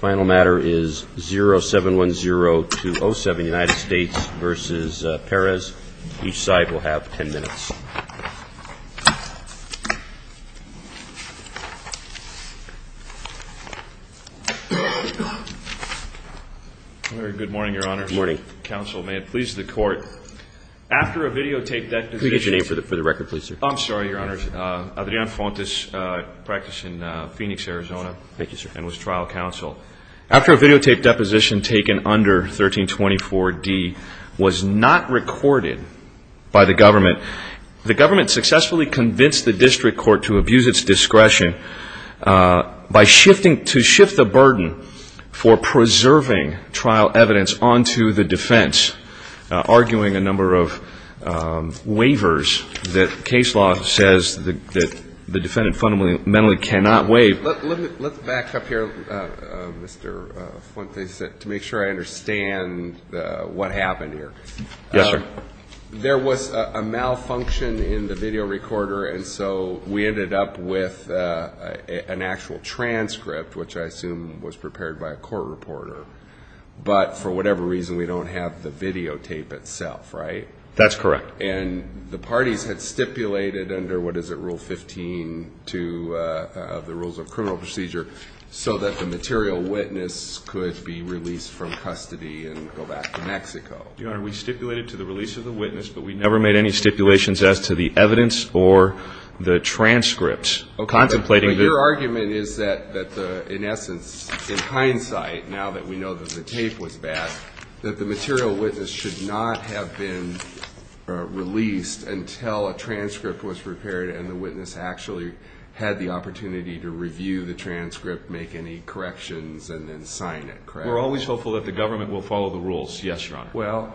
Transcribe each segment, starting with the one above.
0710 to 07, United States v. Perez. Each side will have 10 minutes. Good morning, Your Honor. Good morning. Counsel, may it please the Court, after I videotaped that decision Could you get your name for the record, please, sir? I'm sorry, Your Honor. Adrian Fontes practiced in Phoenix, Arizona. Thank you, sir. And was trial counsel. After a videotaped deposition taken under 1324D was not recorded by the government, the government successfully convinced the district court to abuse its discretion to shift the burden for preserving trial evidence onto the defense, arguing a number of waivers that case law says that the defendant fundamentally cannot waive. Let's back up here, Mr. Fontes, to make sure I understand what happened here. Yes, sir. There was a malfunction in the video recorder, and so we ended up with an actual transcript, which I assume was prepared by a court reporter. But for whatever reason, we don't have the videotape itself, right? That's correct. And the parties had stipulated under, what is it, Rule 15 to the Rules of Criminal Procedure so that the material witness could be released from custody and go back to Mexico. Your Honor, we stipulated to the release of the witness, but we never made any stipulations as to the evidence or the transcripts. Your argument is that, in essence, in hindsight, now that we know that the tape was bad, that the material witness should not have been released until a transcript was prepared and the witness actually had the opportunity to review the transcript, make any corrections, and then sign it, correct? We're always hopeful that the government will follow the rules. Yes, Your Honor.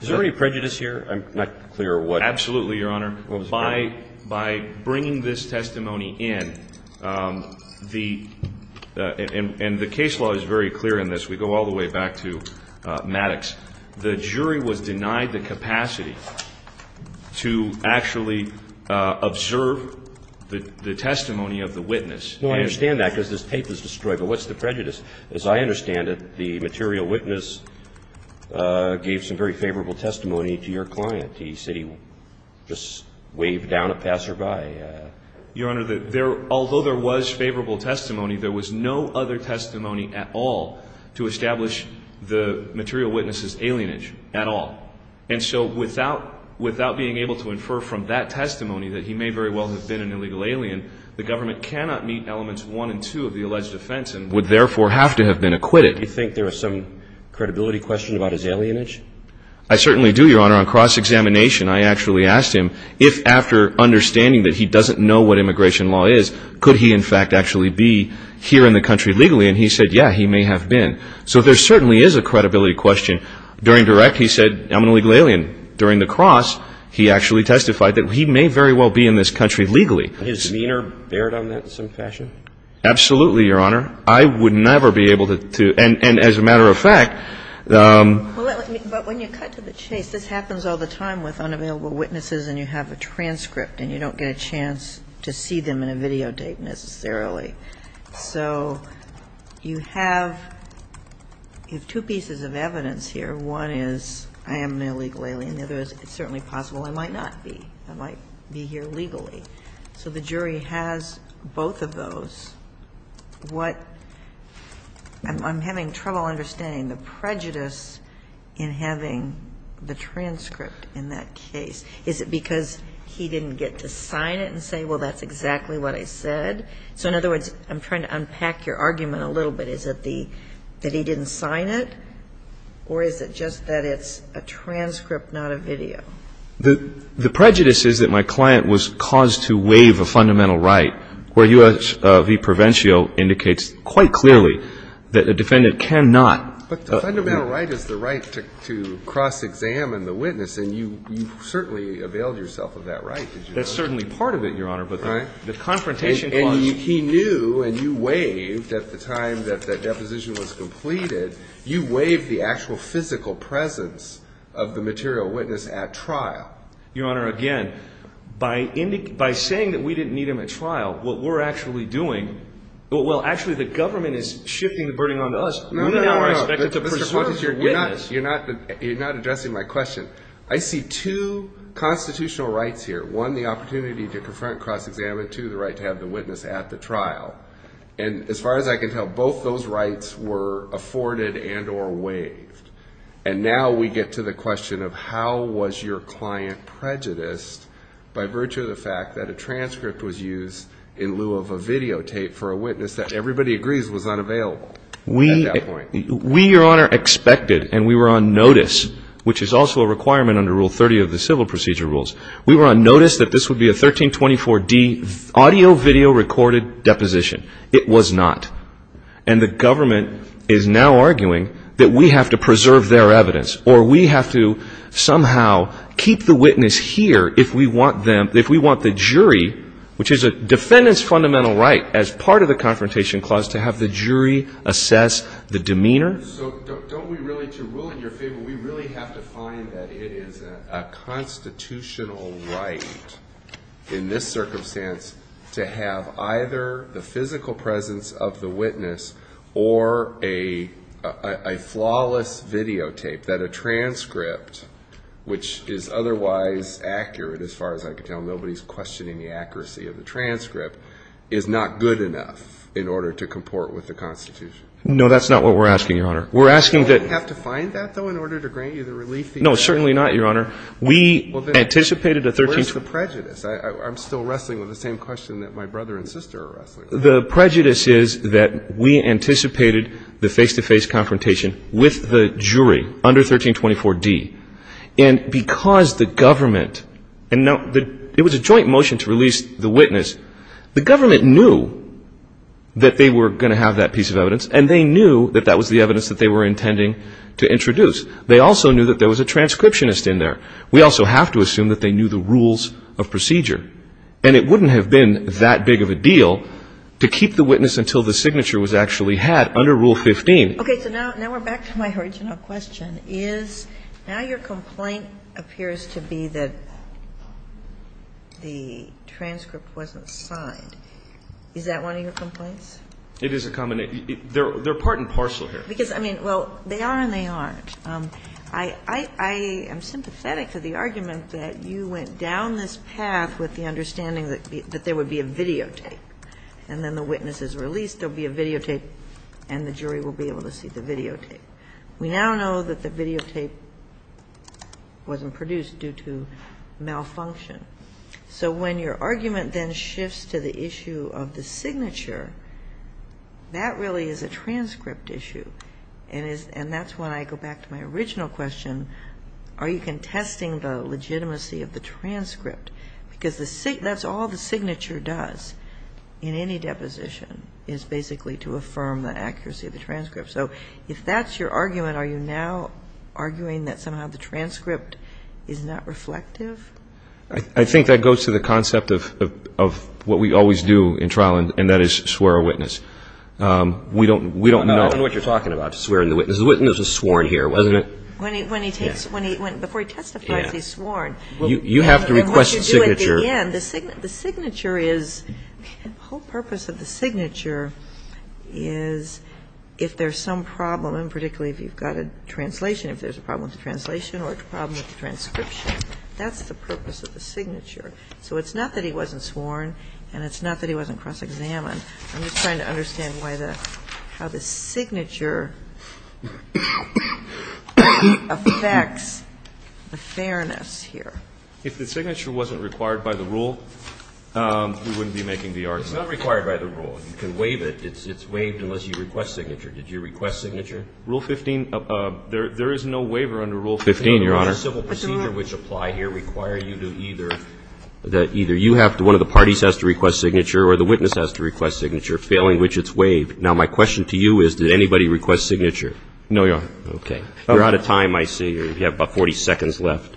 Is there any prejudice here? I'm not clear what. Absolutely, Your Honor. By bringing this testimony in, the – and the case law is very clear in this. We go all the way back to Maddox. The jury was denied the capacity to actually observe the testimony of the witness. No, I understand that because this tape was destroyed. But what's the prejudice? As I understand it, the material witness gave some very favorable testimony to your client. He said he just waved down a passerby. Your Honor, although there was favorable testimony, there was no other testimony at all to establish the material witness's alienage at all. And so without being able to infer from that testimony that he may very well have been an illegal alien, the government cannot meet elements one and two of the alleged offense and would therefore have to have been acquitted. Do you think there is some credibility question about his alienage? I certainly do, Your Honor. On cross-examination, I actually asked him if, after understanding that he doesn't know what immigration law is, could he in fact actually be here in the country legally. And he said, yeah, he may have been. So there certainly is a credibility question. During direct, he said, I'm an illegal alien. During the cross, he actually testified that he may very well be in this country legally. His demeanor bared on that in some fashion? Absolutely, Your Honor. I would never be able to – and as a matter of fact – But when you cut to the chase, this happens all the time with unavailable witnesses and you have a transcript and you don't get a chance to see them in a video tape necessarily. So you have two pieces of evidence here. One is I am an illegal alien. The other is it's certainly possible I might not be. I might be here legally. So the jury has both of those. What – I'm having trouble understanding the prejudice in having the transcript in that case. Is it because he didn't get to sign it and say, well, that's exactly what I said? So in other words, I'm trying to unpack your argument a little bit. Is it that he didn't sign it? Or is it just that it's a transcript, not a video? The prejudice is that my client was caused to waive a fundamental right. Where U.S. v. Provencio indicates quite clearly that a defendant cannot – But the fundamental right is the right to cross-examine the witness and you certainly availed yourself of that right, did you not? That's certainly part of it, Your Honor, but the confrontation clause – And he knew and you waived at the time that that deposition was completed. You waived the actual physical presence of the material witness at trial. Your Honor, again, by saying that we didn't need him at trial, what we're actually doing – Well, actually the government is shifting the burden onto us. No, no, no. We now are expected to preserve the witness. You're not addressing my question. I see two constitutional rights here. One, the opportunity to confront, cross-examine. Two, the right to have the witness at the trial. And as far as I can tell, both those rights were afforded and or waived. And now we get to the question of how was your client prejudiced by virtue of the fact that a transcript was used in lieu of a videotape for a witness that everybody agrees was unavailable at that point? We, Your Honor, expected and we were on notice, which is also a requirement under Rule 30 of the Civil Procedure Rules. We were on notice that this would be a 1324D audio-video recorded deposition. It was not. And the government is now arguing that we have to preserve their evidence or we have to somehow keep the witness here if we want them – if we want the jury, which is a defendant's fundamental right as part of the Confrontation Clause, to have the jury assess the demeanor. So don't we really – to rule in your favor, we really have to find that it is a constitutional right in this circumstance to have either the physical presence of the witness or a flawless videotape that a transcript, which is otherwise accurate as far as I can tell, nobody's questioning the accuracy of the transcript, is not good enough in order to comport with the Constitution? No, that's not what we're asking, Your Honor. We're asking that – Do we have to find that, though, in order to grant you the relief that you – No, certainly not, Your Honor. We anticipated a 1324 – I'm still wrestling with the same question that my brother and sister are wrestling with. The prejudice is that we anticipated the face-to-face confrontation with the jury under 1324d. And because the government – and it was a joint motion to release the witness. The government knew that they were going to have that piece of evidence, and they knew that that was the evidence that they were intending to introduce. They also knew that there was a transcriptionist in there. We also have to assume that they knew the rules of procedure. And it wouldn't have been that big of a deal to keep the witness until the signature was actually had under Rule 15. Okay. So now we're back to my original question. Is – now your complaint appears to be that the transcript wasn't signed. Is that one of your complaints? It is a – they're part and parcel here. Because, I mean, well, they are and they aren't. I am sympathetic to the argument that you went down this path with the understanding that there would be a videotape. And then the witness is released, there will be a videotape, and the jury will be able to see the videotape. We now know that the videotape wasn't produced due to malfunction. So when your argument then shifts to the issue of the signature, that really is a transcript issue. And that's when I go back to my original question. Are you contesting the legitimacy of the transcript? Because that's all the signature does in any deposition, is basically to affirm the accuracy of the transcript. So if that's your argument, are you now arguing that somehow the transcript is not reflective? I think that goes to the concept of what we always do in trial, and that is swear a witness. We don't know. I don't know what you're talking about, swearing a witness. The witness was sworn here, wasn't it? Before he testifies, he's sworn. You have to request the signature. The signature is the whole purpose of the signature is if there's some problem, and particularly if you've got a translation, if there's a problem with the translation or a problem with the transcription. That's the purpose of the signature. So it's not that he wasn't sworn and it's not that he wasn't cross-examined. I'm just trying to understand how the signature affects the fairness here. If the signature wasn't required by the rule, we wouldn't be making the argument. It's not required by the rule. You can waive it. It's waived unless you request signature. Did you request signature? Rule 15, there is no waiver under Rule 15. Rule 15, Your Honor. The civil procedure which apply here require you to either, that either you have to request signature or the witness has to request signature, failing which it's waived. Now, my question to you is, did anybody request signature? No, Your Honor. Okay. You're out of time, I see. You have about 40 seconds left.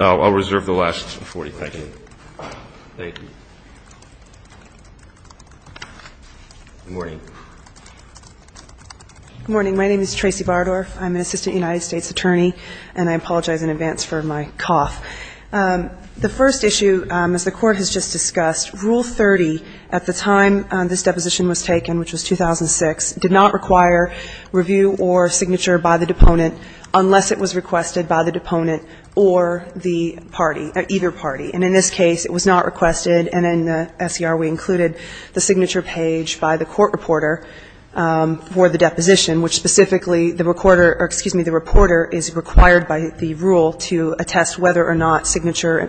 I'll reserve the last 40 seconds. Thank you. Good morning. Good morning. My name is Tracy Bardorf. I'm an assistant United States attorney, and I apologize in advance for my cough. The first issue, as the Court has just discussed, Rule 30 at the time this deposition was taken, which was 2006, did not require review or signature by the deponent unless it was requested by the deponent or the party, either party. And in this case, it was not requested. And in the SCR, we included the signature page by the court reporter for the deposition, which specifically the reporter or, excuse me, the reporter is required by the rule to attest whether or not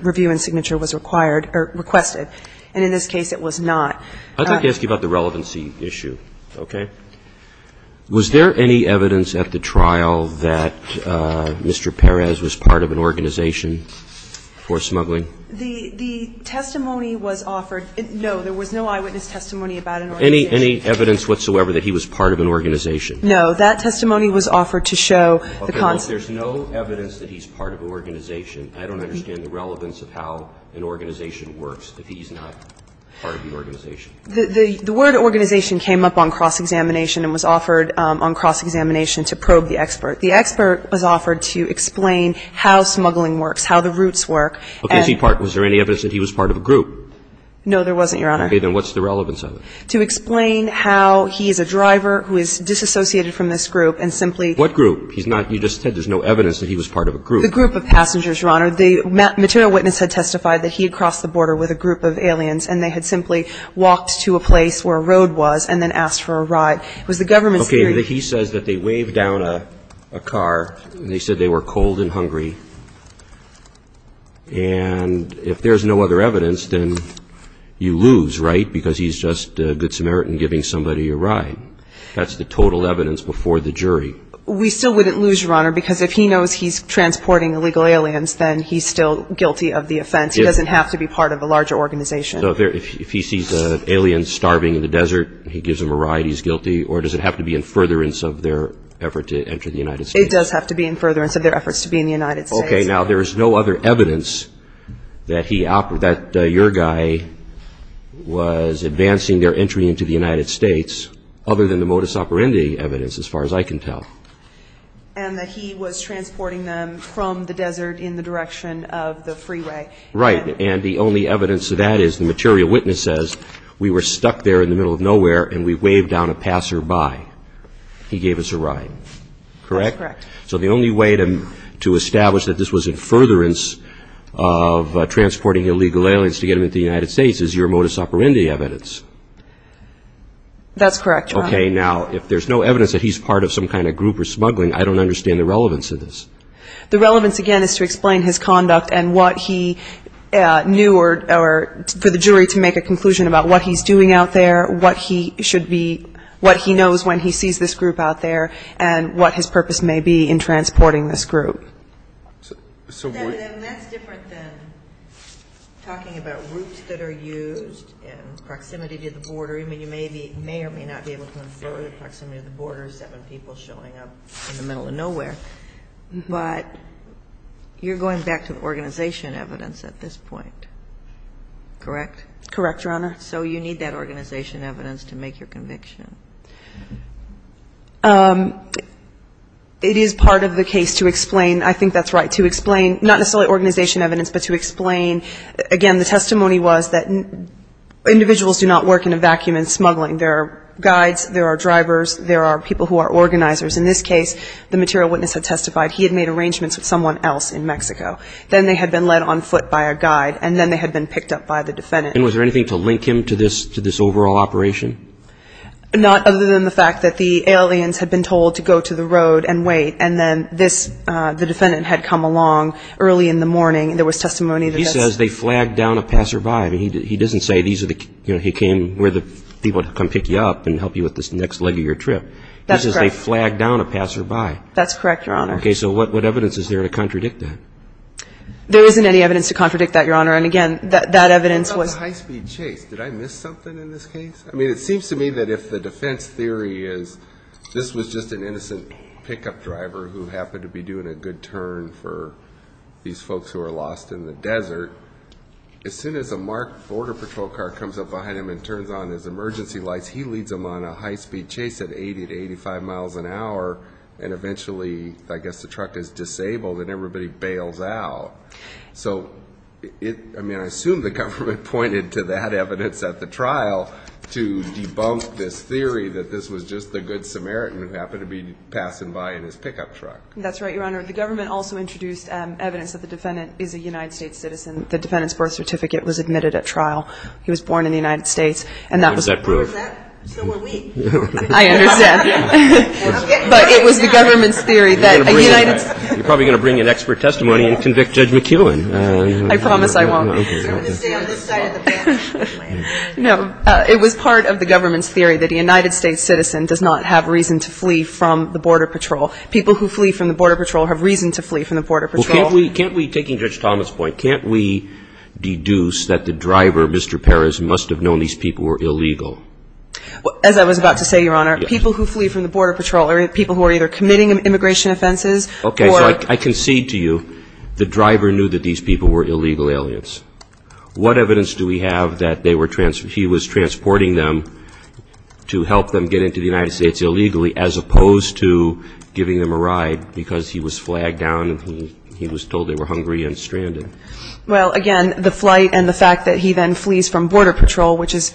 review and signature was required or requested. And in this case, it was not. I'd like to ask you about the relevancy issue, okay? Was there any evidence at the trial that Mr. Perez was part of an organization for smuggling? The testimony was offered. No, there was no eyewitness testimony about an organization. Any evidence whatsoever that he was part of an organization? No. That testimony was offered to show the concept. Okay. Well, if there's no evidence that he's part of an organization, I don't understand the relevance of how an organization works if he's not part of the organization. The word organization came up on cross-examination and was offered on cross-examination to probe the expert. The expert was offered to explain how smuggling works, how the routes work. Okay. Was there any evidence that he was part of a group? No, there wasn't, Your Honor. Okay. Then what's the relevance of it? To explain how he is a driver who is disassociated from this group and simply – What group? He's not – you just said there's no evidence that he was part of a group. The group of passengers, Your Honor. The material witness had testified that he had crossed the border with a group of aliens and they had simply walked to a place where a road was and then asked for a ride. It was the government's theory – Okay. And if there's no other evidence, then you lose, right, because he's just a Good Samaritan giving somebody a ride. That's the total evidence before the jury. We still wouldn't lose, Your Honor, because if he knows he's transporting illegal aliens, then he's still guilty of the offense. He doesn't have to be part of a larger organization. So if he sees an alien starving in the desert, he gives him a ride, he's guilty, or does it have to be in furtherance of their effort to enter the United States? It does have to be in furtherance of their efforts to be in the United States. Okay. Now, there is no other evidence that he – that your guy was advancing their entry into the United States other than the modus operandi evidence, as far as I can tell. And that he was transporting them from the desert in the direction of the freeway. Right. And the only evidence of that is the material witness says, we were stuck there in the middle of nowhere and we waved down a passerby. He gave us a ride. Correct? That's correct. So the only way to establish that this was in furtherance of transporting illegal aliens to get them into the United States is your modus operandi evidence. That's correct, Your Honor. Okay. Now, if there's no evidence that he's part of some kind of group or smuggling, I don't understand the relevance of this. The relevance, again, is to explain his conduct and what he knew, or for the jury to make a conclusion about what he's doing out there, what he should be – what he knows when he sees this group out there, and what his purpose may be in transporting this group. That's different than talking about routes that are used in proximity to the border. I mean, you may or may not be able to infer the proximity of the border, seven people showing up in the middle of nowhere. But you're going back to the organization evidence at this point, correct? Correct, Your Honor. So you need that organization evidence to make your conviction. It is part of the case to explain – I think that's right – to explain, not necessarily organization evidence, but to explain, again, the testimony was that individuals do not work in a vacuum in smuggling. There are guides, there are drivers, there are people who are organizers. In this case, the material witness had testified he had made arrangements with someone else in Mexico. Then they had been led on foot by a guide, and then they had been picked up by the defendant. And was there anything to link him to this overall operation? Not other than the fact that the aliens had been told to go to the road and wait, and then the defendant had come along early in the morning. There was testimony that just – He says they flagged down a passerby. I mean, he doesn't say he came where the people would come pick you up and help you with this next leg of your trip. That's correct. He says they flagged down a passerby. That's correct, Your Honor. Okay. So what evidence is there to contradict that? There isn't any evidence to contradict that, Your Honor. And, again, that evidence was – What about the high-speed chase? Did I miss something in this case? I mean, it seems to me that if the defense theory is this was just an innocent pickup driver who happened to be doing a good turn for these folks who are lost in the desert, as soon as a marked border patrol car comes up behind him and turns on his emergency lights, he leads them on a high-speed chase at 80 to 85 miles an hour, and eventually I guess the truck is disabled and everybody bails out. So it – I mean, I assume the government pointed to that evidence at the trial to debunk this theory that this was just the good Samaritan who happened to be passing by in his pickup truck. That's right, Your Honor. The government also introduced evidence that the defendant is a United States citizen. The defendant's birth certificate was admitted at trial. He was born in the United States. And that was the proof. What does that prove? So were we. I understand. But it was the government's theory that a United – You're probably going to bring an expert testimony and convict Judge McKeown. I promise I won't. I'm going to stay on this side of the bench. No. It was part of the government's theory that a United States citizen does not have reason to flee from the border patrol. People who flee from the border patrol have reason to flee from the border patrol. Well, can't we – taking Judge Thomas' point, can't we deduce that the driver, Mr. Perez, must have known these people were illegal? As I was about to say, Your Honor, people who flee from the border patrol are people who are either committing immigration offenses or – Okay. So I concede to you the driver knew that these people were illegal aliens. What evidence do we have that they were – he was transporting them to help them get into the United States illegally as opposed to giving them a ride because he was flagged down and he was told they were hungry and stranded? Well, again, the flight and the fact that he then flees from border patrol, which is,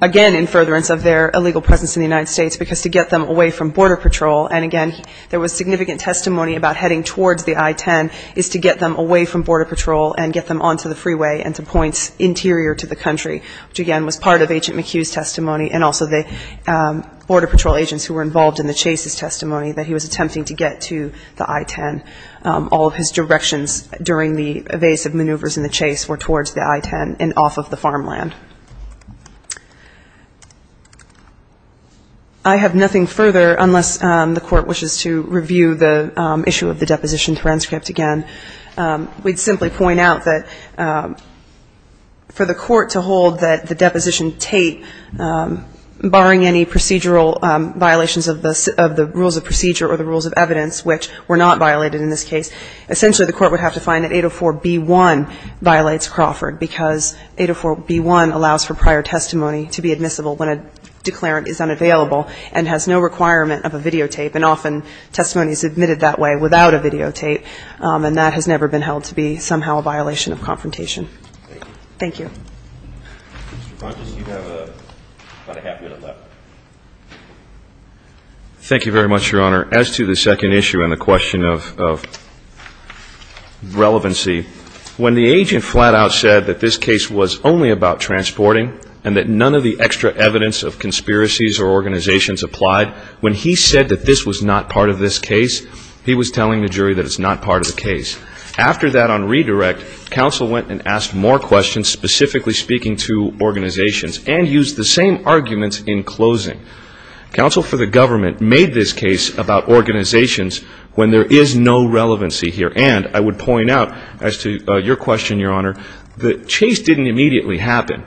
again, in furtherance of their illegal presence in the United States, because to get them away from border patrol, and, again, there was significant testimony about heading towards the I-10, is to get them away from border patrol and get them onto the freeway and to points interior to the country, which, again, was part of Agent McHugh's testimony and also the border patrol agents who were involved in the chase's testimony that he was attempting to get to the I-10. All of his directions during the evasive maneuvers in the chase were towards the I-10 and off of the farmland. I have nothing further unless the Court wishes to review the issue of the deposition transcript again. We'd simply point out that for the Court to hold that the deposition tape, barring any procedural violations of the rules of procedure or the rules of evidence, which were not violated in this case, essentially the Court would have to find that 804b1 violates Crawford because 804b1 allows for prior testimony to be admissible when a declarant is unavailable and has no requirement of a videotape, and often testimony is admitted that way without a videotape, and that has never been held to be somehow a violation of confrontation. Thank you. Mr. Pontius, you have about a half minute left. Thank you very much, Your Honor. As to the second issue and the question of relevancy, when the agent flat out said that this case was only about transporting and that none of the extra evidence of conspiracies or organizations applied, when he said that this was not part of this case, he was telling the jury that it's not part of the case. After that on redirect, counsel went and asked more questions, specifically speaking to organizations, and used the same arguments in closing. Counsel for the government made this case about organizations when there is no relevancy here, and I would point out as to your question, Your Honor, that chase didn't immediately happen.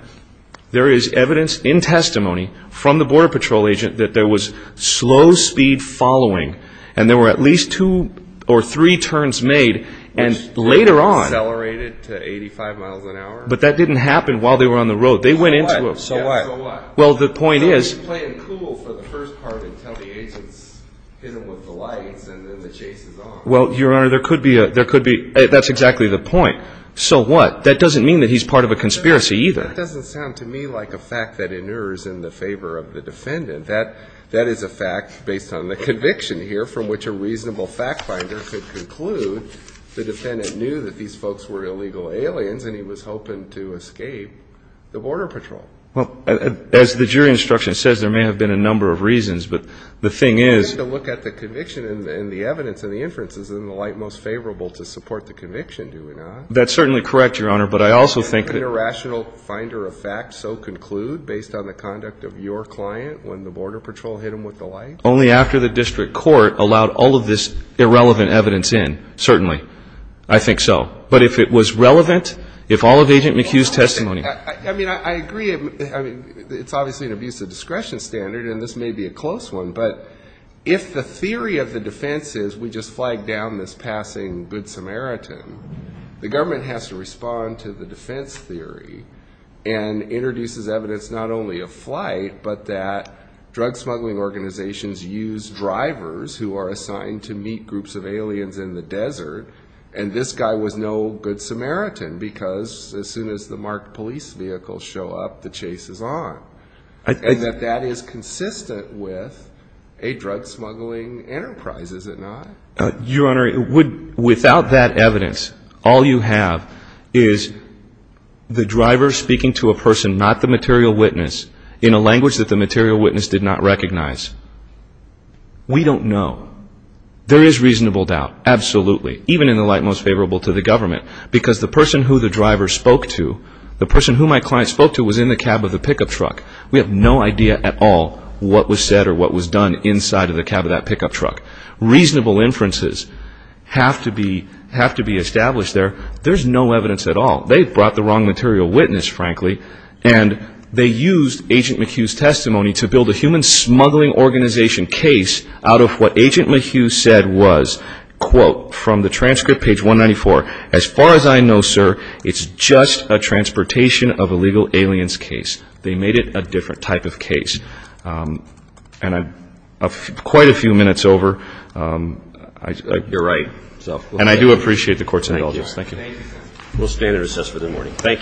There is evidence in testimony from the Border Patrol agent that there was slow speed following and there were at least two or three turns made, and later on. Accelerated to 85 miles an hour? But that didn't happen while they were on the road. They went into it. So what? So what? It was cool for the first part until the agents hit him with the lights and then the chase is on. Well, Your Honor, there could be a – that's exactly the point. So what? That doesn't mean that he's part of a conspiracy either. That doesn't sound to me like a fact that inures in the favor of the defendant. That is a fact based on the conviction here from which a reasonable fact finder could conclude the defendant knew that these folks were illegal aliens and he was hoping to escape the Border Patrol. Well, as the jury instruction says, there may have been a number of reasons. But the thing is – Well, then to look at the conviction and the evidence and the inferences, isn't the light most favorable to support the conviction, do we not? That's certainly correct, Your Honor. But I also think – An irrational finder of facts so conclude based on the conduct of your client when the Border Patrol hit him with the light? Only after the district court allowed all of this irrelevant evidence in. Certainly. I think so. But if it was relevant, if all of Agent McHugh's testimony – I agree. It's obviously an abuse of discretion standard, and this may be a close one. But if the theory of the defense is we just flagged down this passing Good Samaritan, the government has to respond to the defense theory and introduces evidence not only of flight but that drug smuggling organizations use drivers who are assigned to meet groups of aliens in the desert, and this guy was no Good Samaritan because as soon as the marked police vehicles show up, the chase is on. And that that is consistent with a drug smuggling enterprise, is it not? Your Honor, without that evidence, all you have is the driver speaking to a person, not the material witness, in a language that the material witness did not recognize. We don't know. There is reasonable doubt, absolutely. Even in the light most favorable to the government. Because the person who the driver spoke to, the person who my client spoke to, was in the cab of the pickup truck. We have no idea at all what was said or what was done inside of the cab of that pickup truck. Reasonable inferences have to be established there. There's no evidence at all. They brought the wrong material witness, frankly, and they used Agent McHugh's testimony to build a human smuggling organization case out of what Agent McHugh said was, quote, from the transcript, page 194, as far as I know, sir, it's just a transportation of illegal aliens case. They made it a different type of case. And I'm quite a few minutes over. You're right. And I do appreciate the court's indulgence. Thank you. We'll stand and recess for the morning. Thank you very much.